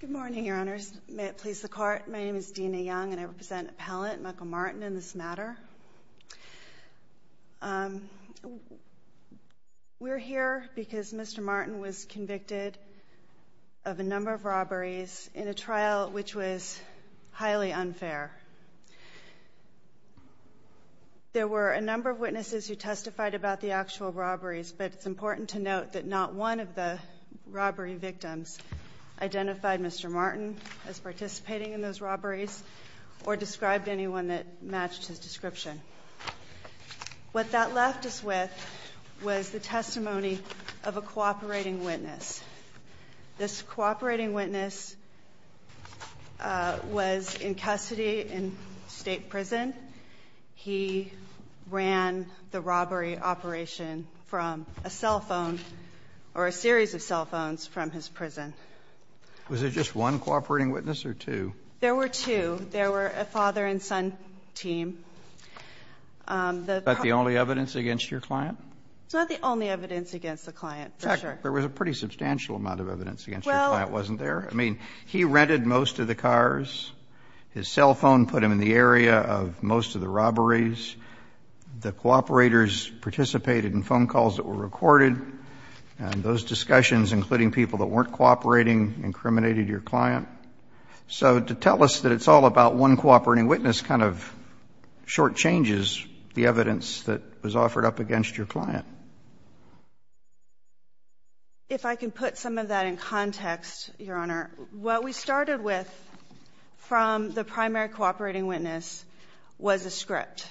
Good morning, Your Honors. May it please the Court, my name is Dina Young and I represent appellant Michael Martin in this matter. We're here because Mr. Martin was convicted of a number of robberies in a trial which was highly unfair. There were a number of witnesses who testified about the actual robberies, but it's important to note that not one of the robbery victims identified Mr. Martin as participating in those robberies or described anyone that matched his description. What that left us with was the testimony of a cooperating witness. This cooperating witness was in custody in state prison. He ran the robbery operation from a cell phone or a series of cell phones from his prison. Was there just one cooperating witness or two? There were two. There were a father and son team. Is that the only evidence against your client? It's not the only evidence against the client, for sure. In fact, there was a pretty substantial amount of evidence against your client, wasn't there? I mean, he rented most of the cars. His cell phone put him in the area of most of the robberies. The cooperators participated in phone calls that were recorded, and those discussions, including people that weren't cooperating, incriminated your client. So to tell us that it's all about one cooperating witness kind of shortchanges the evidence that was offered up against your client. If I can put some of that in context, Your Honor, what we started with from the primary cooperating witness was a script.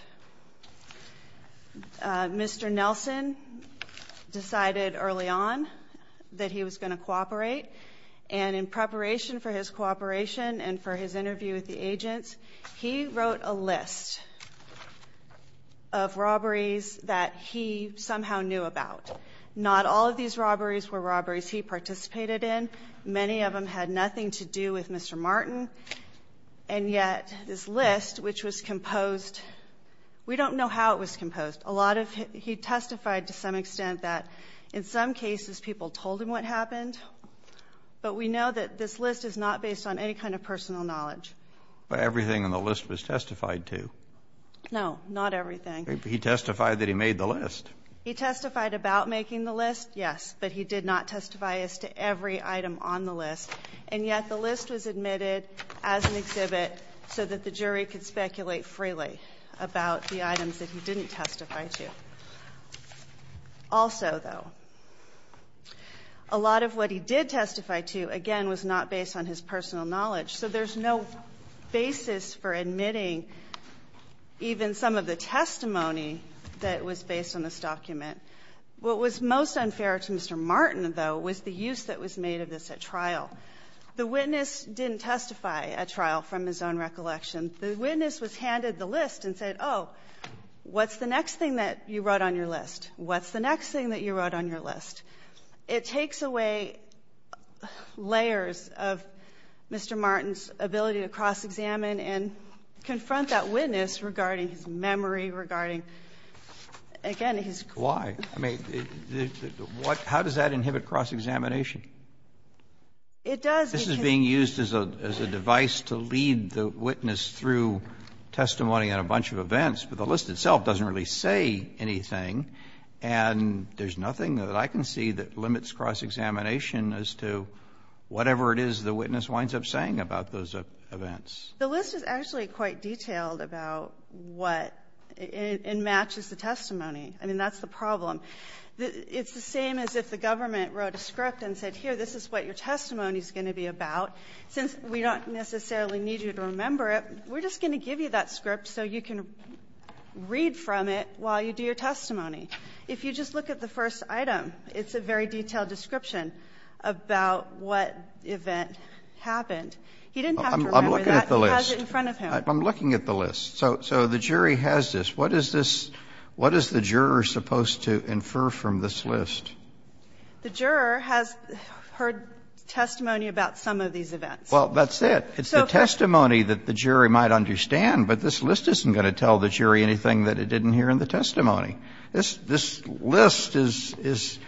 Mr. Nelson decided early on that he was going to cooperate, and in preparation for his cooperation and for his interview with the agents, he wrote a list of robberies that he somehow knew about. Not all of these robberies were robberies he participated in. Many of them had nothing to do with Mr. Martin. And yet this list, which was composed, we don't know how it was composed. A lot of it, he testified to some extent that in some cases people told him what happened, but we know that this list is not based on any kind of personal knowledge. But everything on the list was testified to. No, not everything. He testified that he made the list. He testified about making the list, yes, but he did not testify as to every item on the list. And yet the list was admitted as an exhibit so that the jury could speculate freely about the items that he didn't testify to. Also, though, a lot of what he did testify to, again, was not based on his personal knowledge. So there's no basis for admitting even some of the testimony that was based on this document. What was most unfair to Mr. Martin, though, was the use that was made of this at trial. The witness didn't testify at trial from his own recollection. The witness was handed the list and said, oh, what's the next thing that you wrote on your list? What's the next thing that you wrote on your list? It takes away layers of Mr. Martin's ability to cross-examine and confront that witness regarding his memory, regarding, again, his question. Roberts, I mean, how does that inhibit cross-examination? It does. This is being used as a device to lead the witness through testimony on a bunch of events, but the list itself doesn't really say anything, and there's nothing that I can see that limits cross-examination as to whatever it is the witness winds up saying about those events. The list is actually quite detailed about what it matches the testimony. I mean, that's the problem. It's the same as if the government wrote a script and said, here, this is what your testimony is going to be about. Since we don't necessarily need you to remember it, we're just going to give you that script so you can read from it while you do your testimony. If you just look at the first item, it's a very detailed description about what event happened. He didn't have to remember that. He has it in front of him. Roberts, I'm looking at the list. So the jury has this. What is this? What is the juror supposed to infer from this list? The juror has heard testimony about some of these events. Well, that's it. It's the testimony that the jury might understand, but this list isn't going to tell the jury anything that it didn't hear in the testimony. This list is,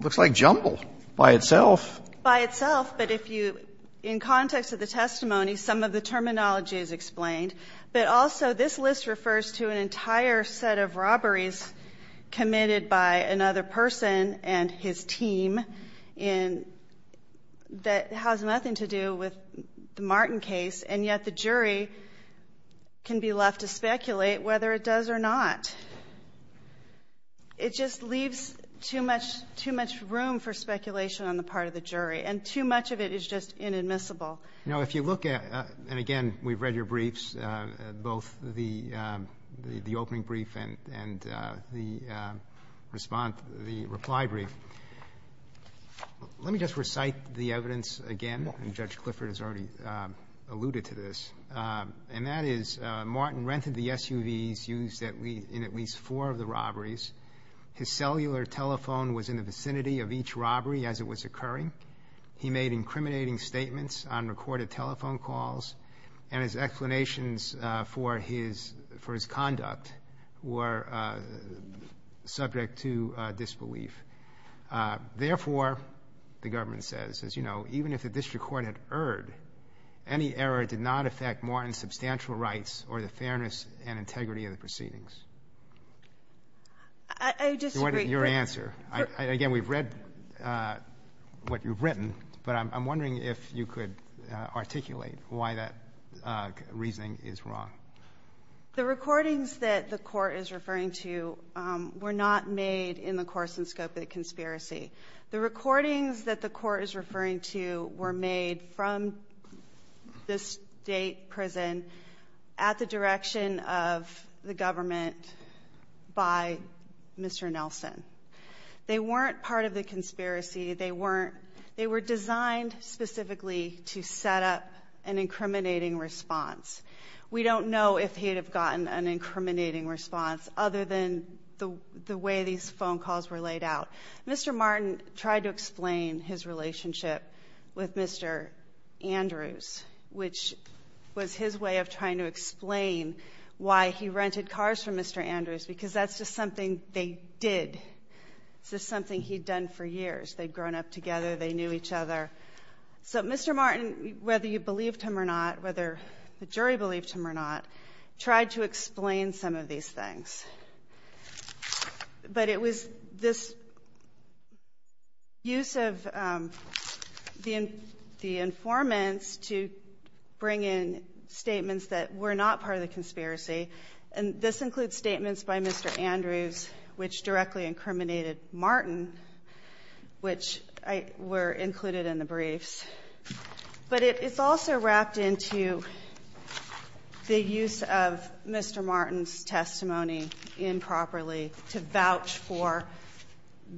looks like jumble by itself. By itself. But if you, in context of the testimony, some of the terminology is explained. But also, this list refers to an entire set of robberies committed by another person and his team in, that has nothing to do with the Martin case, and yet the jury can be left to speculate whether it does or not. It just leaves too much, too much room for speculation on the part of the jury. And too much of it is just inadmissible. Now, if you look at, and again, we've read your briefs, both the opening brief and the response, the reply brief. Let me just recite the evidence again. And Judge Clifford has already alluded to this. And that is Martin rented the SUVs used in at least four of the robberies. His cellular telephone was in the vicinity of each robbery as it was occurring. He made incriminating statements on recorded telephone calls. And his explanations for his conduct were subject to disbelief. Therefore, the government says, as you know, even if the district court had erred, any error did not affect Martin's substantial rights or the fairness and integrity of the proceedings. I disagree. Your answer. Again, we've read what you've written. But I'm wondering if you could articulate why that reasoning is wrong. The recordings that the court is referring to were not made in the course and scope of the conspiracy. The recordings that the court is referring to were made from the state prison at the They weren't part of the conspiracy. They weren't. They were designed specifically to set up an incriminating response. We don't know if he'd have gotten an incriminating response other than the way these phone calls were laid out. Mr. Martin tried to explain his relationship with Mr. Andrews, which was his way of trying to explain why he rented cars from Mr. Andrews, because that's just something they did. It's just something he'd done for years. They'd grown up together. They knew each other. So Mr. Martin, whether you believed him or not, whether the jury believed him or not, tried to explain some of these things. But it was this use of the informants to bring in statements that were not part of the conspiracy, and this includes statements by Mr. Andrews, which directly incriminated Martin, which were included in the briefs. But it's also wrapped into the use of Mr. Martin's testimony in the briefs, which he used improperly to vouch for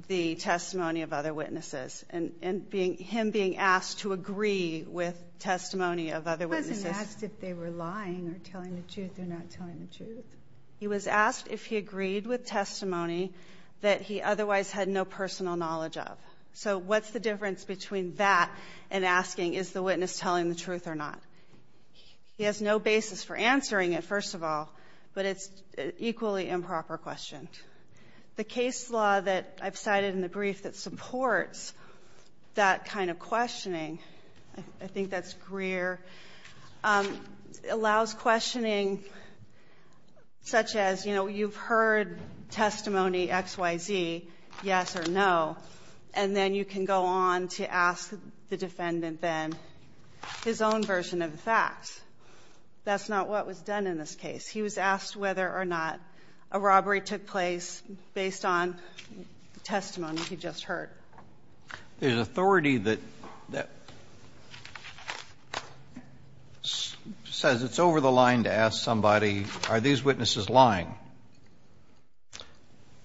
the testimony of other witnesses, and him being asked to agree with testimony of other witnesses. He wasn't asked if they were lying or telling the truth or not telling the truth. He was asked if he agreed with testimony that he otherwise had no personal knowledge of. So what's the difference between that and asking is the witness telling the truth or not? He has no basis for answering it, first of all, but it's equally improper question. The case law that I've cited in the brief that supports that kind of questioning — I think that's Greer — allows questioning such as, you know, you've heard testimony X, Y, Z, yes or no, and then you can go on to ask the defendant, then, his own version of the facts. That's not what was done in this case. He was asked whether or not a robbery took place based on testimony he just heard. There's authority that says it's over the line to ask somebody, are these witnesses lying?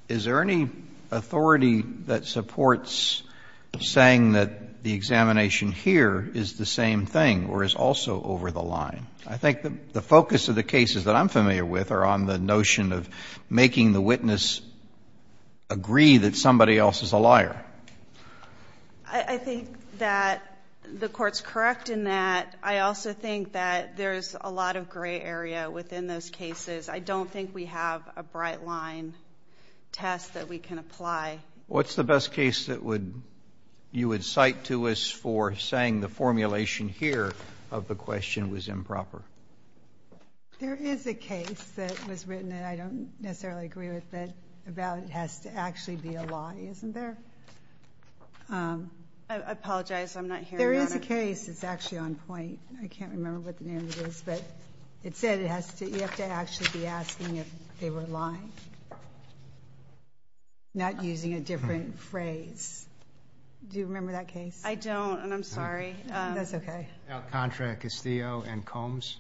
Is there any authority that supports saying that the examination here is the same thing or is also over the line? I think the focus of the cases that I'm familiar with are on the notion of making the witness agree that somebody else is a liar. I think that the Court's correct in that. I also think that there's a lot of gray area within those cases. I don't think we have a bright line test that we can apply. What's the best case that you would cite to us for saying the formulation here of the question was improper? There is a case that was written, and I don't necessarily agree with it, about it has to actually be a lie, isn't there? I apologize. I'm not hearing that. There is a case that's actually on point. I can't remember what the name of it is, but it said it has to — you have to actually be asking if they were lying, not using a different phrase. Do you remember that case? I don't, and I'm sorry. That's okay. Alcantara, Castillo, and Combs.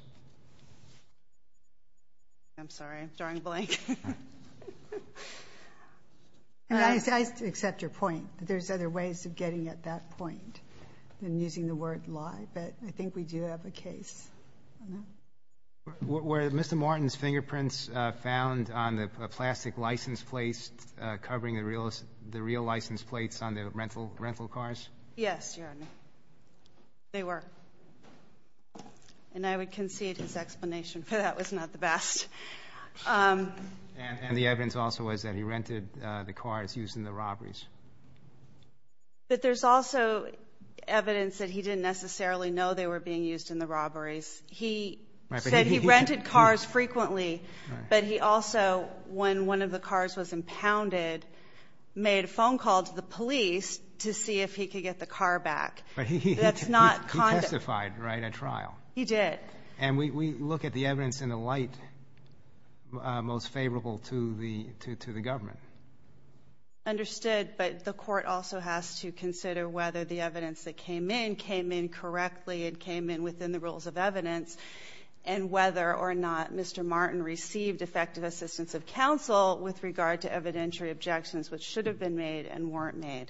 I'm sorry. I'm drawing a blank. I accept your point, but there's other ways of getting at that point than using the word lie, but I think we do have a case on that. Were Mr. Martin's fingerprints found on the plastic license plates covering the real license plates on the rental cars? Yes, Your Honor. They were. And I would concede his explanation for that was not the best. And the evidence also was that he rented the cars used in the robberies. But there's also evidence that he didn't necessarily know they were being used in the robberies. He said he rented cars frequently, but he also, when one of the cars was impounded, made a phone call to the police to see if he could get the car back. He testified, right, at trial. He did. And we look at the evidence in the light most favorable to the government. Understood, but the court also has to consider whether the evidence that came in came in correctly and came in within the rules of evidence and whether or not Mr. Martin received effective assistance of counsel with regard to evidentiary objections which should have been made and weren't made.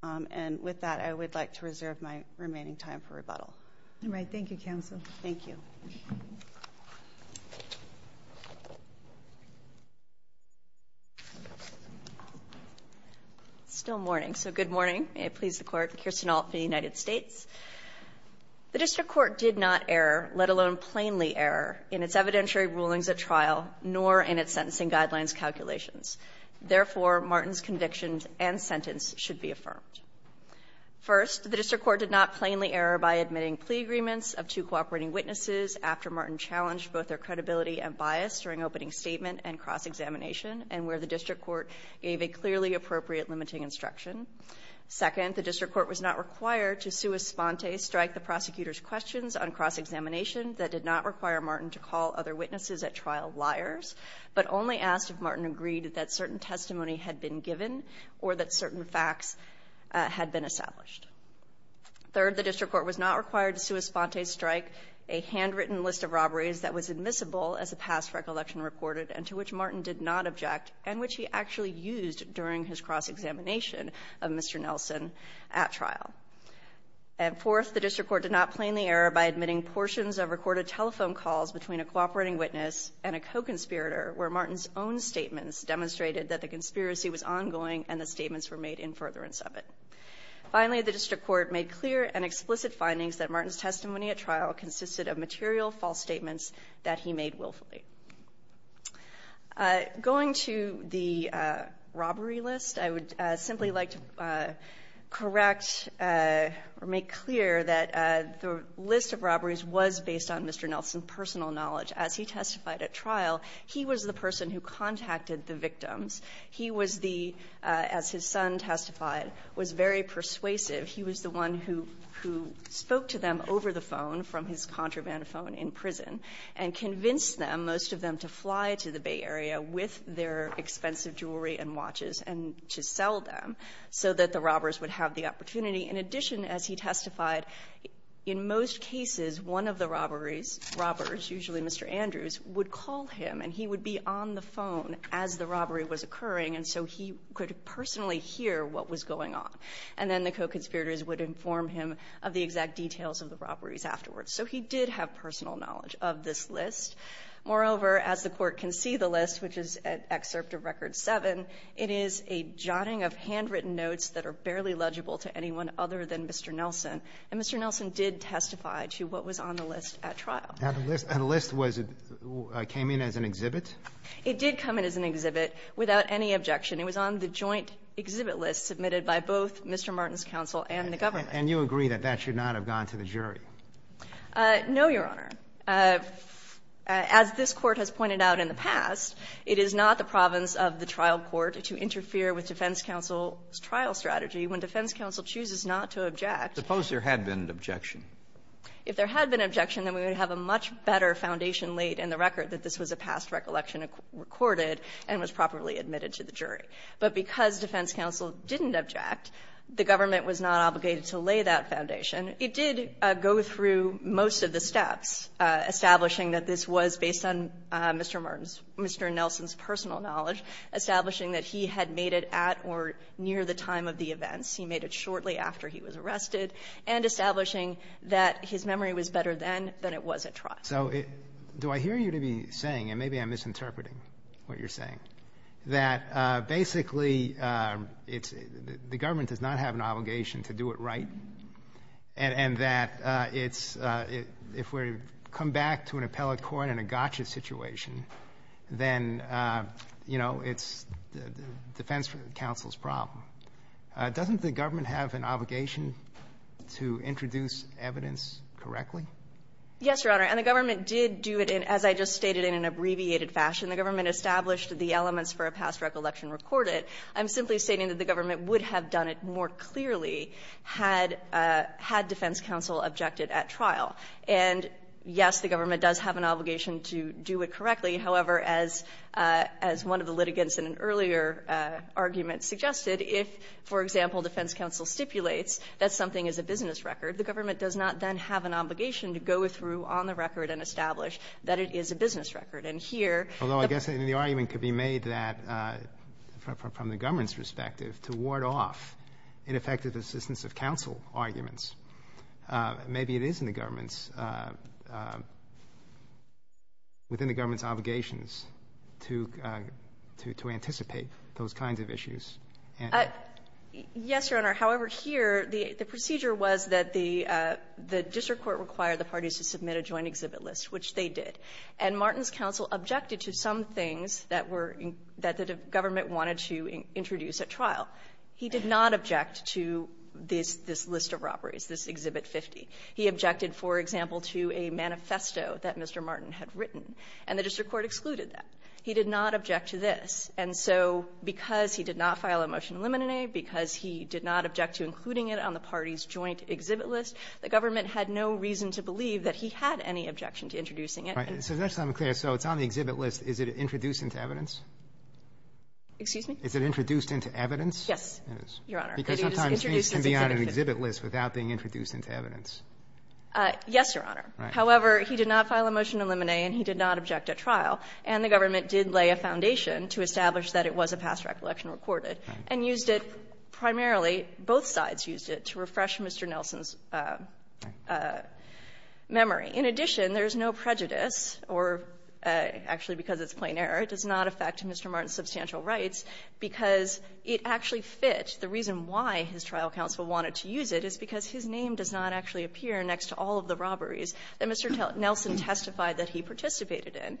And with that, I would like to reserve my remaining time for rebuttal. All right. Thank you, counsel. Thank you. It's still morning, so good morning. May it please the Court, Kirsten Alt for the United States. The district court did not err, let alone plainly err, in its evidentiary rulings at trial, nor in its sentencing guidelines calculations. Therefore, Martin's convictions and sentence should be affirmed. First, the district court did not plainly err by admitting plea agreements of two cooperating witnesses after Martin challenged both their credibility and bias during opening statement and cross-examination, and where the district court gave a clearly appropriate limiting instruction. Second, the district court was not required to sua sponte strike the prosecutor's questions on cross-examination that did not require Martin to call other witnesses at trial liars, but only asked if Martin agreed that certain testimony had been given or that certain facts had been established. Third, the district court was not required to sua sponte strike a handwritten list of robberies that was admissible as a past recollection recorded and to which Martin actually used during his cross-examination of Mr. Nelson at trial. And fourth, the district court did not plainly err by admitting portions of recorded telephone calls between a cooperating witness and a co-conspirator where Martin's own statements demonstrated that the conspiracy was ongoing and the statements were made in furtherance of it. Finally, the district court made clear and explicit findings that Martin's testimony at trial consisted of material false statements that he made willfully. Going to the robbery list, I would simply like to correct or make clear that the list of robberies was based on Mr. Nelson's personal knowledge. As he testified at trial, he was the person who contacted the victims. He was the, as his son testified, was very persuasive. He was the one who spoke to them over the phone from his contraband phone in prison and convinced them, most of them, to fly to the Bay Area with their expensive jewelry and watches and to sell them so that the robbers would have the opportunity. In addition, as he testified, in most cases, one of the robberies, robbers, usually Mr. Andrews, would call him, and he would be on the phone as the robbery was occurring, and so he could personally hear what was going on. And then the co-conspirators would inform him of the exact details of the robberies afterwards. So he did have personal knowledge of this list. Moreover, as the Court can see the list, which is at Excerpt of Record 7, it is a jotting of handwritten notes that are barely legible to anyone other than Mr. Nelson. And Mr. Nelson did testify to what was on the list at trial. And the list was, came in as an exhibit? It did come in as an exhibit without any objection. It was on the joint exhibit list submitted by both Mr. Martin's counsel and the government. And you agree that that should not have gone to the jury? No, Your Honor. As this Court has pointed out in the past, it is not the province of the trial court to interfere with defense counsel's trial strategy when defense counsel chooses not to object. Suppose there had been an objection. If there had been an objection, then we would have a much better foundation laid in the record that this was a past recollection recorded and was properly admitted to the jury. But because defense counsel didn't object, the government was not obligated to lay that foundation. It did go through most of the steps, establishing that this was based on Mr. Martin's Mr. Nelson's personal knowledge, establishing that he had made it at or near the time of the events. He made it shortly after he was arrested, and establishing that his memory was better then than it was at trial. So do I hear you to be saying, and maybe I'm misinterpreting what you're saying, that basically it's the government does not have an obligation to do it right? And that it's — if we come back to an appellate court in a gotcha situation, then, you know, it's defense counsel's problem. Doesn't the government have an obligation to introduce evidence correctly? Yes, Your Honor. And the government did do it, as I just stated, in an abbreviated fashion. The government established the elements for a past recollection recorded. But I'm simply stating that the government would have done it more clearly had — had defense counsel objected at trial. And, yes, the government does have an obligation to do it correctly. However, as one of the litigants in an earlier argument suggested, if, for example, defense counsel stipulates that something is a business record, the government does not then have an obligation to go through on the record and establish that it is a business record. And here — Although, I guess, the argument could be made that, from the government's perspective, to ward off ineffective assistance of counsel arguments, maybe it is in the government's — within the government's obligations to anticipate those kinds of issues and — Yes, Your Honor. However, here, the procedure was that the — the district court required the parties to submit a joint exhibit list, which they did. And Martin's counsel objected to some things that were — that the government wanted to introduce at trial. He did not object to this — this list of robberies, this Exhibit 50. He objected, for example, to a manifesto that Mr. Martin had written. And the district court excluded that. He did not object to this. And so because he did not file a motion to eliminate, because he did not object to including it on the parties' joint exhibit list, the government had no reason to believe that he had any objection to introducing it. And so that's why I'm clear. So it's on the exhibit list. Is it introduced into evidence? Excuse me? Is it introduced into evidence? Yes, Your Honor. Because sometimes things can be on an exhibit list without being introduced into evidence. Yes, Your Honor. However, he did not file a motion to eliminate, and he did not object at trial. And the government did lay a foundation to establish that it was a past recollection recorded and used it — primarily, both sides used it to refresh Mr. Nelson's memory. In addition, there's no prejudice, or actually because it's plain error, it does not affect Mr. Martin's substantial rights, because it actually fit. The reason why his trial counsel wanted to use it is because his name does not actually appear next to all of the robberies that Mr. Nelson testified that he participated in.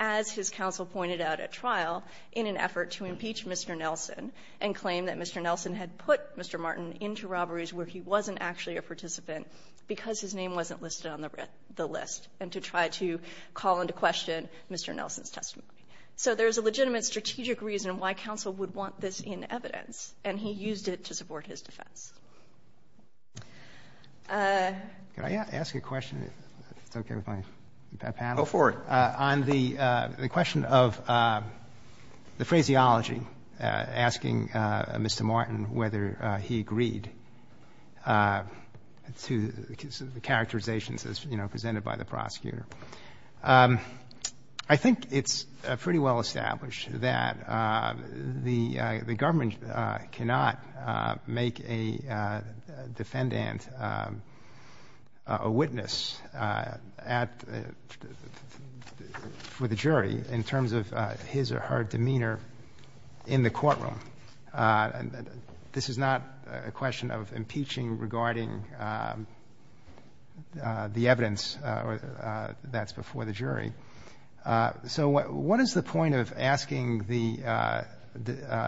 As his counsel pointed out at trial, in an effort to impeach Mr. Nelson and claim that Mr. Nelson had put Mr. Martin into robberies where he wasn't actually a participant because his name wasn't listed on the list, and to try to call into question Mr. Nelson's testimony. So there's a legitimate strategic reason why counsel would want this in evidence, and he used it to support his defense. Roberts, could I ask a question, if it's okay with my panel? Go for it. On the question of the phraseology, asking Mr. Martin whether he agreed to the phraseology to the characterizations as, you know, presented by the prosecutor, I think it's pretty well established that the government cannot make a defendant a witness at the jury in terms of his or her demeanor in the courtroom. This is not a question of impeaching regarding the evidence that's before the jury. So what is the point of asking the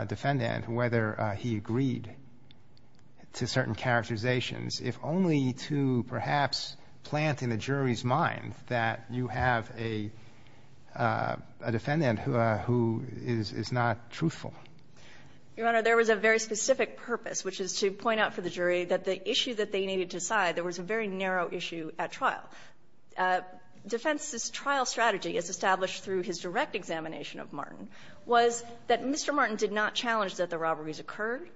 defendant whether he agreed to certain characterizations if only to perhaps plant in the jury's mind that you have a defendant who is not truthful? Your Honor, there was a very specific purpose, which is to point out for the jury that the issue that they needed to decide, there was a very narrow issue at trial. Defense's trial strategy, as established through his direct examination of Martin, was that Mr. Martin did not challenge that the robberies occurred,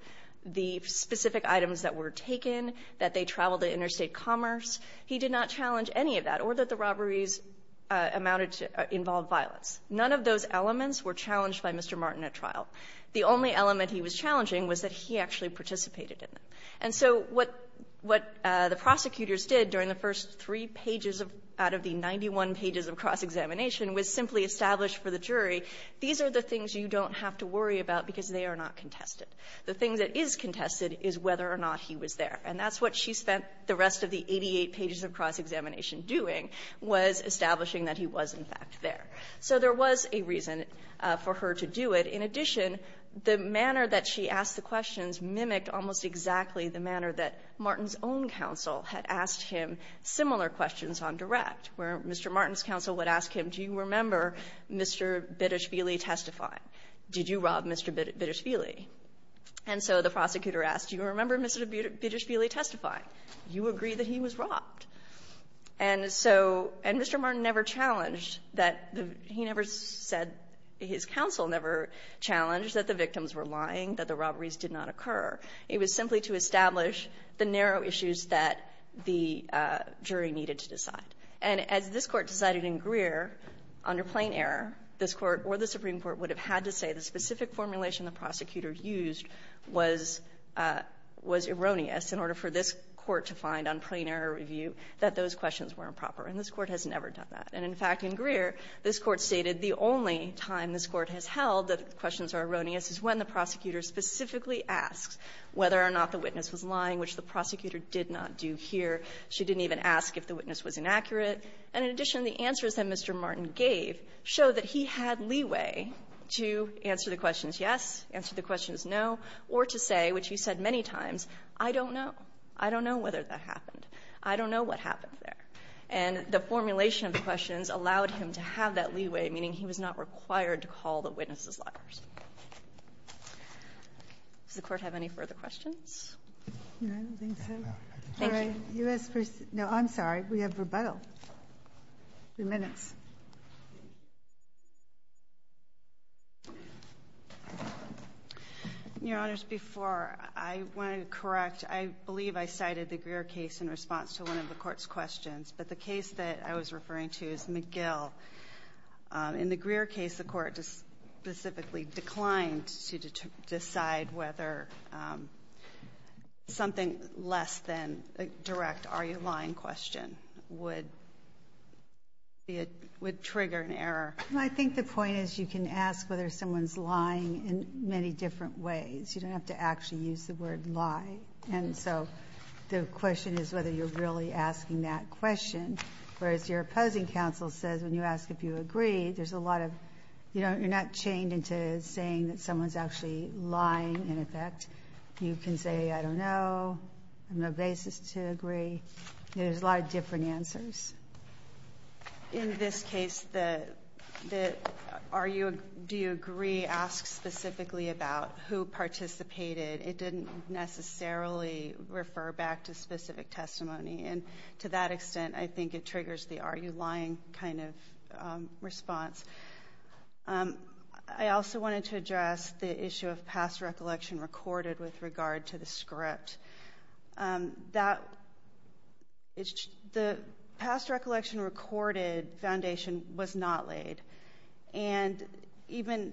the specific items that were taken, that they traveled to interstate commerce. He did not challenge any of that, or that the robberies amounted to or involved violence. None of those elements were challenged by Mr. Martin at trial. The only element he was challenging was that he actually participated in them. And so what the prosecutors did during the first three pages out of the 91 pages of cross-examination was simply establish for the jury, these are the things you don't have to worry about because they are not contested. The thing that is contested is whether or not he was there. And that's what she spent the rest of the 88 pages of cross-examination doing, was establishing that he was, in fact, there. So there was a reason for her to do it. In addition, the manner that she asked the questions mimicked almost exactly the manner that Martin's own counsel had asked him similar questions on direct, where Mr. Martin's counsel would ask him, do you remember Mr. Bidishvili testifying? Did you rob Mr. Bidishvili? And so the prosecutor asked, do you remember Mr. Bidishvili testifying? Do you agree that he was robbed? And so Mr. Martin never challenged that the he never said his counsel never said challenged that the victims were lying, that the robberies did not occur. It was simply to establish the narrow issues that the jury needed to decide. And as this Court decided in Greer, under plain error, this Court or the Supreme Court would have had to say the specific formulation the prosecutor used was erroneous in order for this Court to find on plain error review that those questions were improper. And this Court has never done that. And, in fact, in Greer, this Court stated the only time this Court has held that the questions are erroneous is when the prosecutor specifically asks whether or not the witness was lying, which the prosecutor did not do here. She didn't even ask if the witness was inaccurate. And in addition, the answers that Mr. Martin gave show that he had leeway to answer the questions yes, answer the questions no, or to say, which he said many times, I don't know. I don't know whether that happened. I don't know what happened there. And the formulation of the questions allowed him to have that leeway, meaning he was not required to call the witnesses liars. Does the Court have any further questions? I don't think so. Thank you. No, I'm sorry. We have rebuttal. Three minutes. Your Honors, before I want to correct, I believe I cited the Greer case in response to one of the Court's questions. But the case that I was referring to is McGill. In the Greer case, the Court specifically declined to decide whether something less than a direct are you lying question would be a – would trigger an error. I think the point is you can ask whether someone's lying in many different ways. You don't have to actually use the word lie. And so the question is whether you're really asking that question. Whereas your opposing counsel says when you ask if you agree, there's a lot of – you know, you're not chained into saying that someone's actually lying in effect. You can say, I don't know, no basis to agree. There's a lot of different answers. In this case, the are you – do you agree asks specifically about who participated. It didn't necessarily refer back to specific testimony. And to that extent, I think it triggers the are you lying kind of response. I also wanted to address the issue of past recollection recorded with regard to the script. That – the past recollection recorded foundation was not laid. And even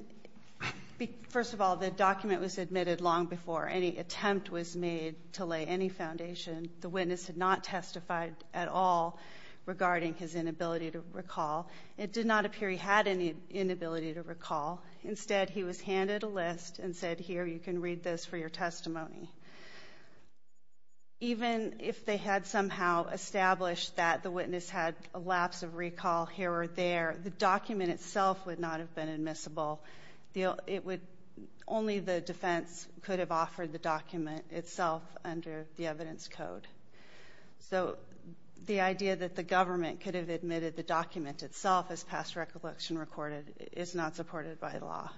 – first of all, the document was admitted long before any attempt was made to lay any foundation. The witness had not testified at all regarding his inability to recall. It did not appear he had any inability to recall. Instead, he was handed a list and said, here, you can read this for your testimony. Even if they had somehow established that the witness had a lapse of recall here or there, the document itself would not have been admissible. It would – only the defense could have offered the document itself under the evidence code. So the idea that the government could have admitted the document itself as past recollection recorded is not supported by law.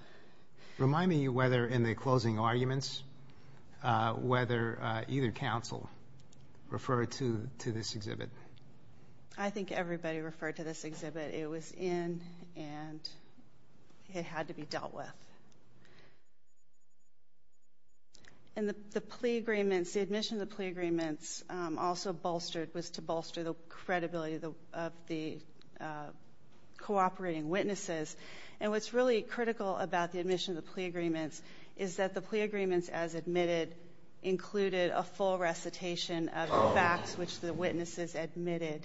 Remind me whether in the closing arguments, whether either counsel referred to this exhibit. I think everybody referred to this exhibit. It was in and it had to be dealt with. And the plea agreements – the admission of the plea agreements also bolstered – was to bolster the credibility of the cooperating witnesses. And what's really critical about the admission of the plea agreements is that the plea agreements as admitted included a full recitation of the facts which the witnesses admitted.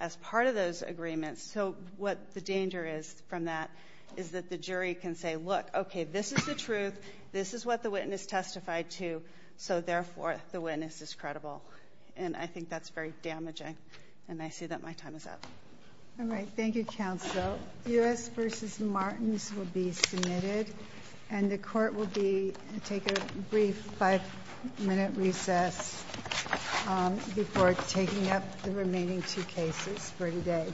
As part of those agreements, so what the danger is from that is that the jury can say, look, okay, this is the truth. This is what the witness testified to. So therefore, the witness is credible. And I think that's very damaging. And I see that my time is up. Ginsburg. All right. Thank you, counsel. U.S. v. Martins will be submitted, and the Court will be – take a brief five-minute recess before taking up the remaining two cases for today.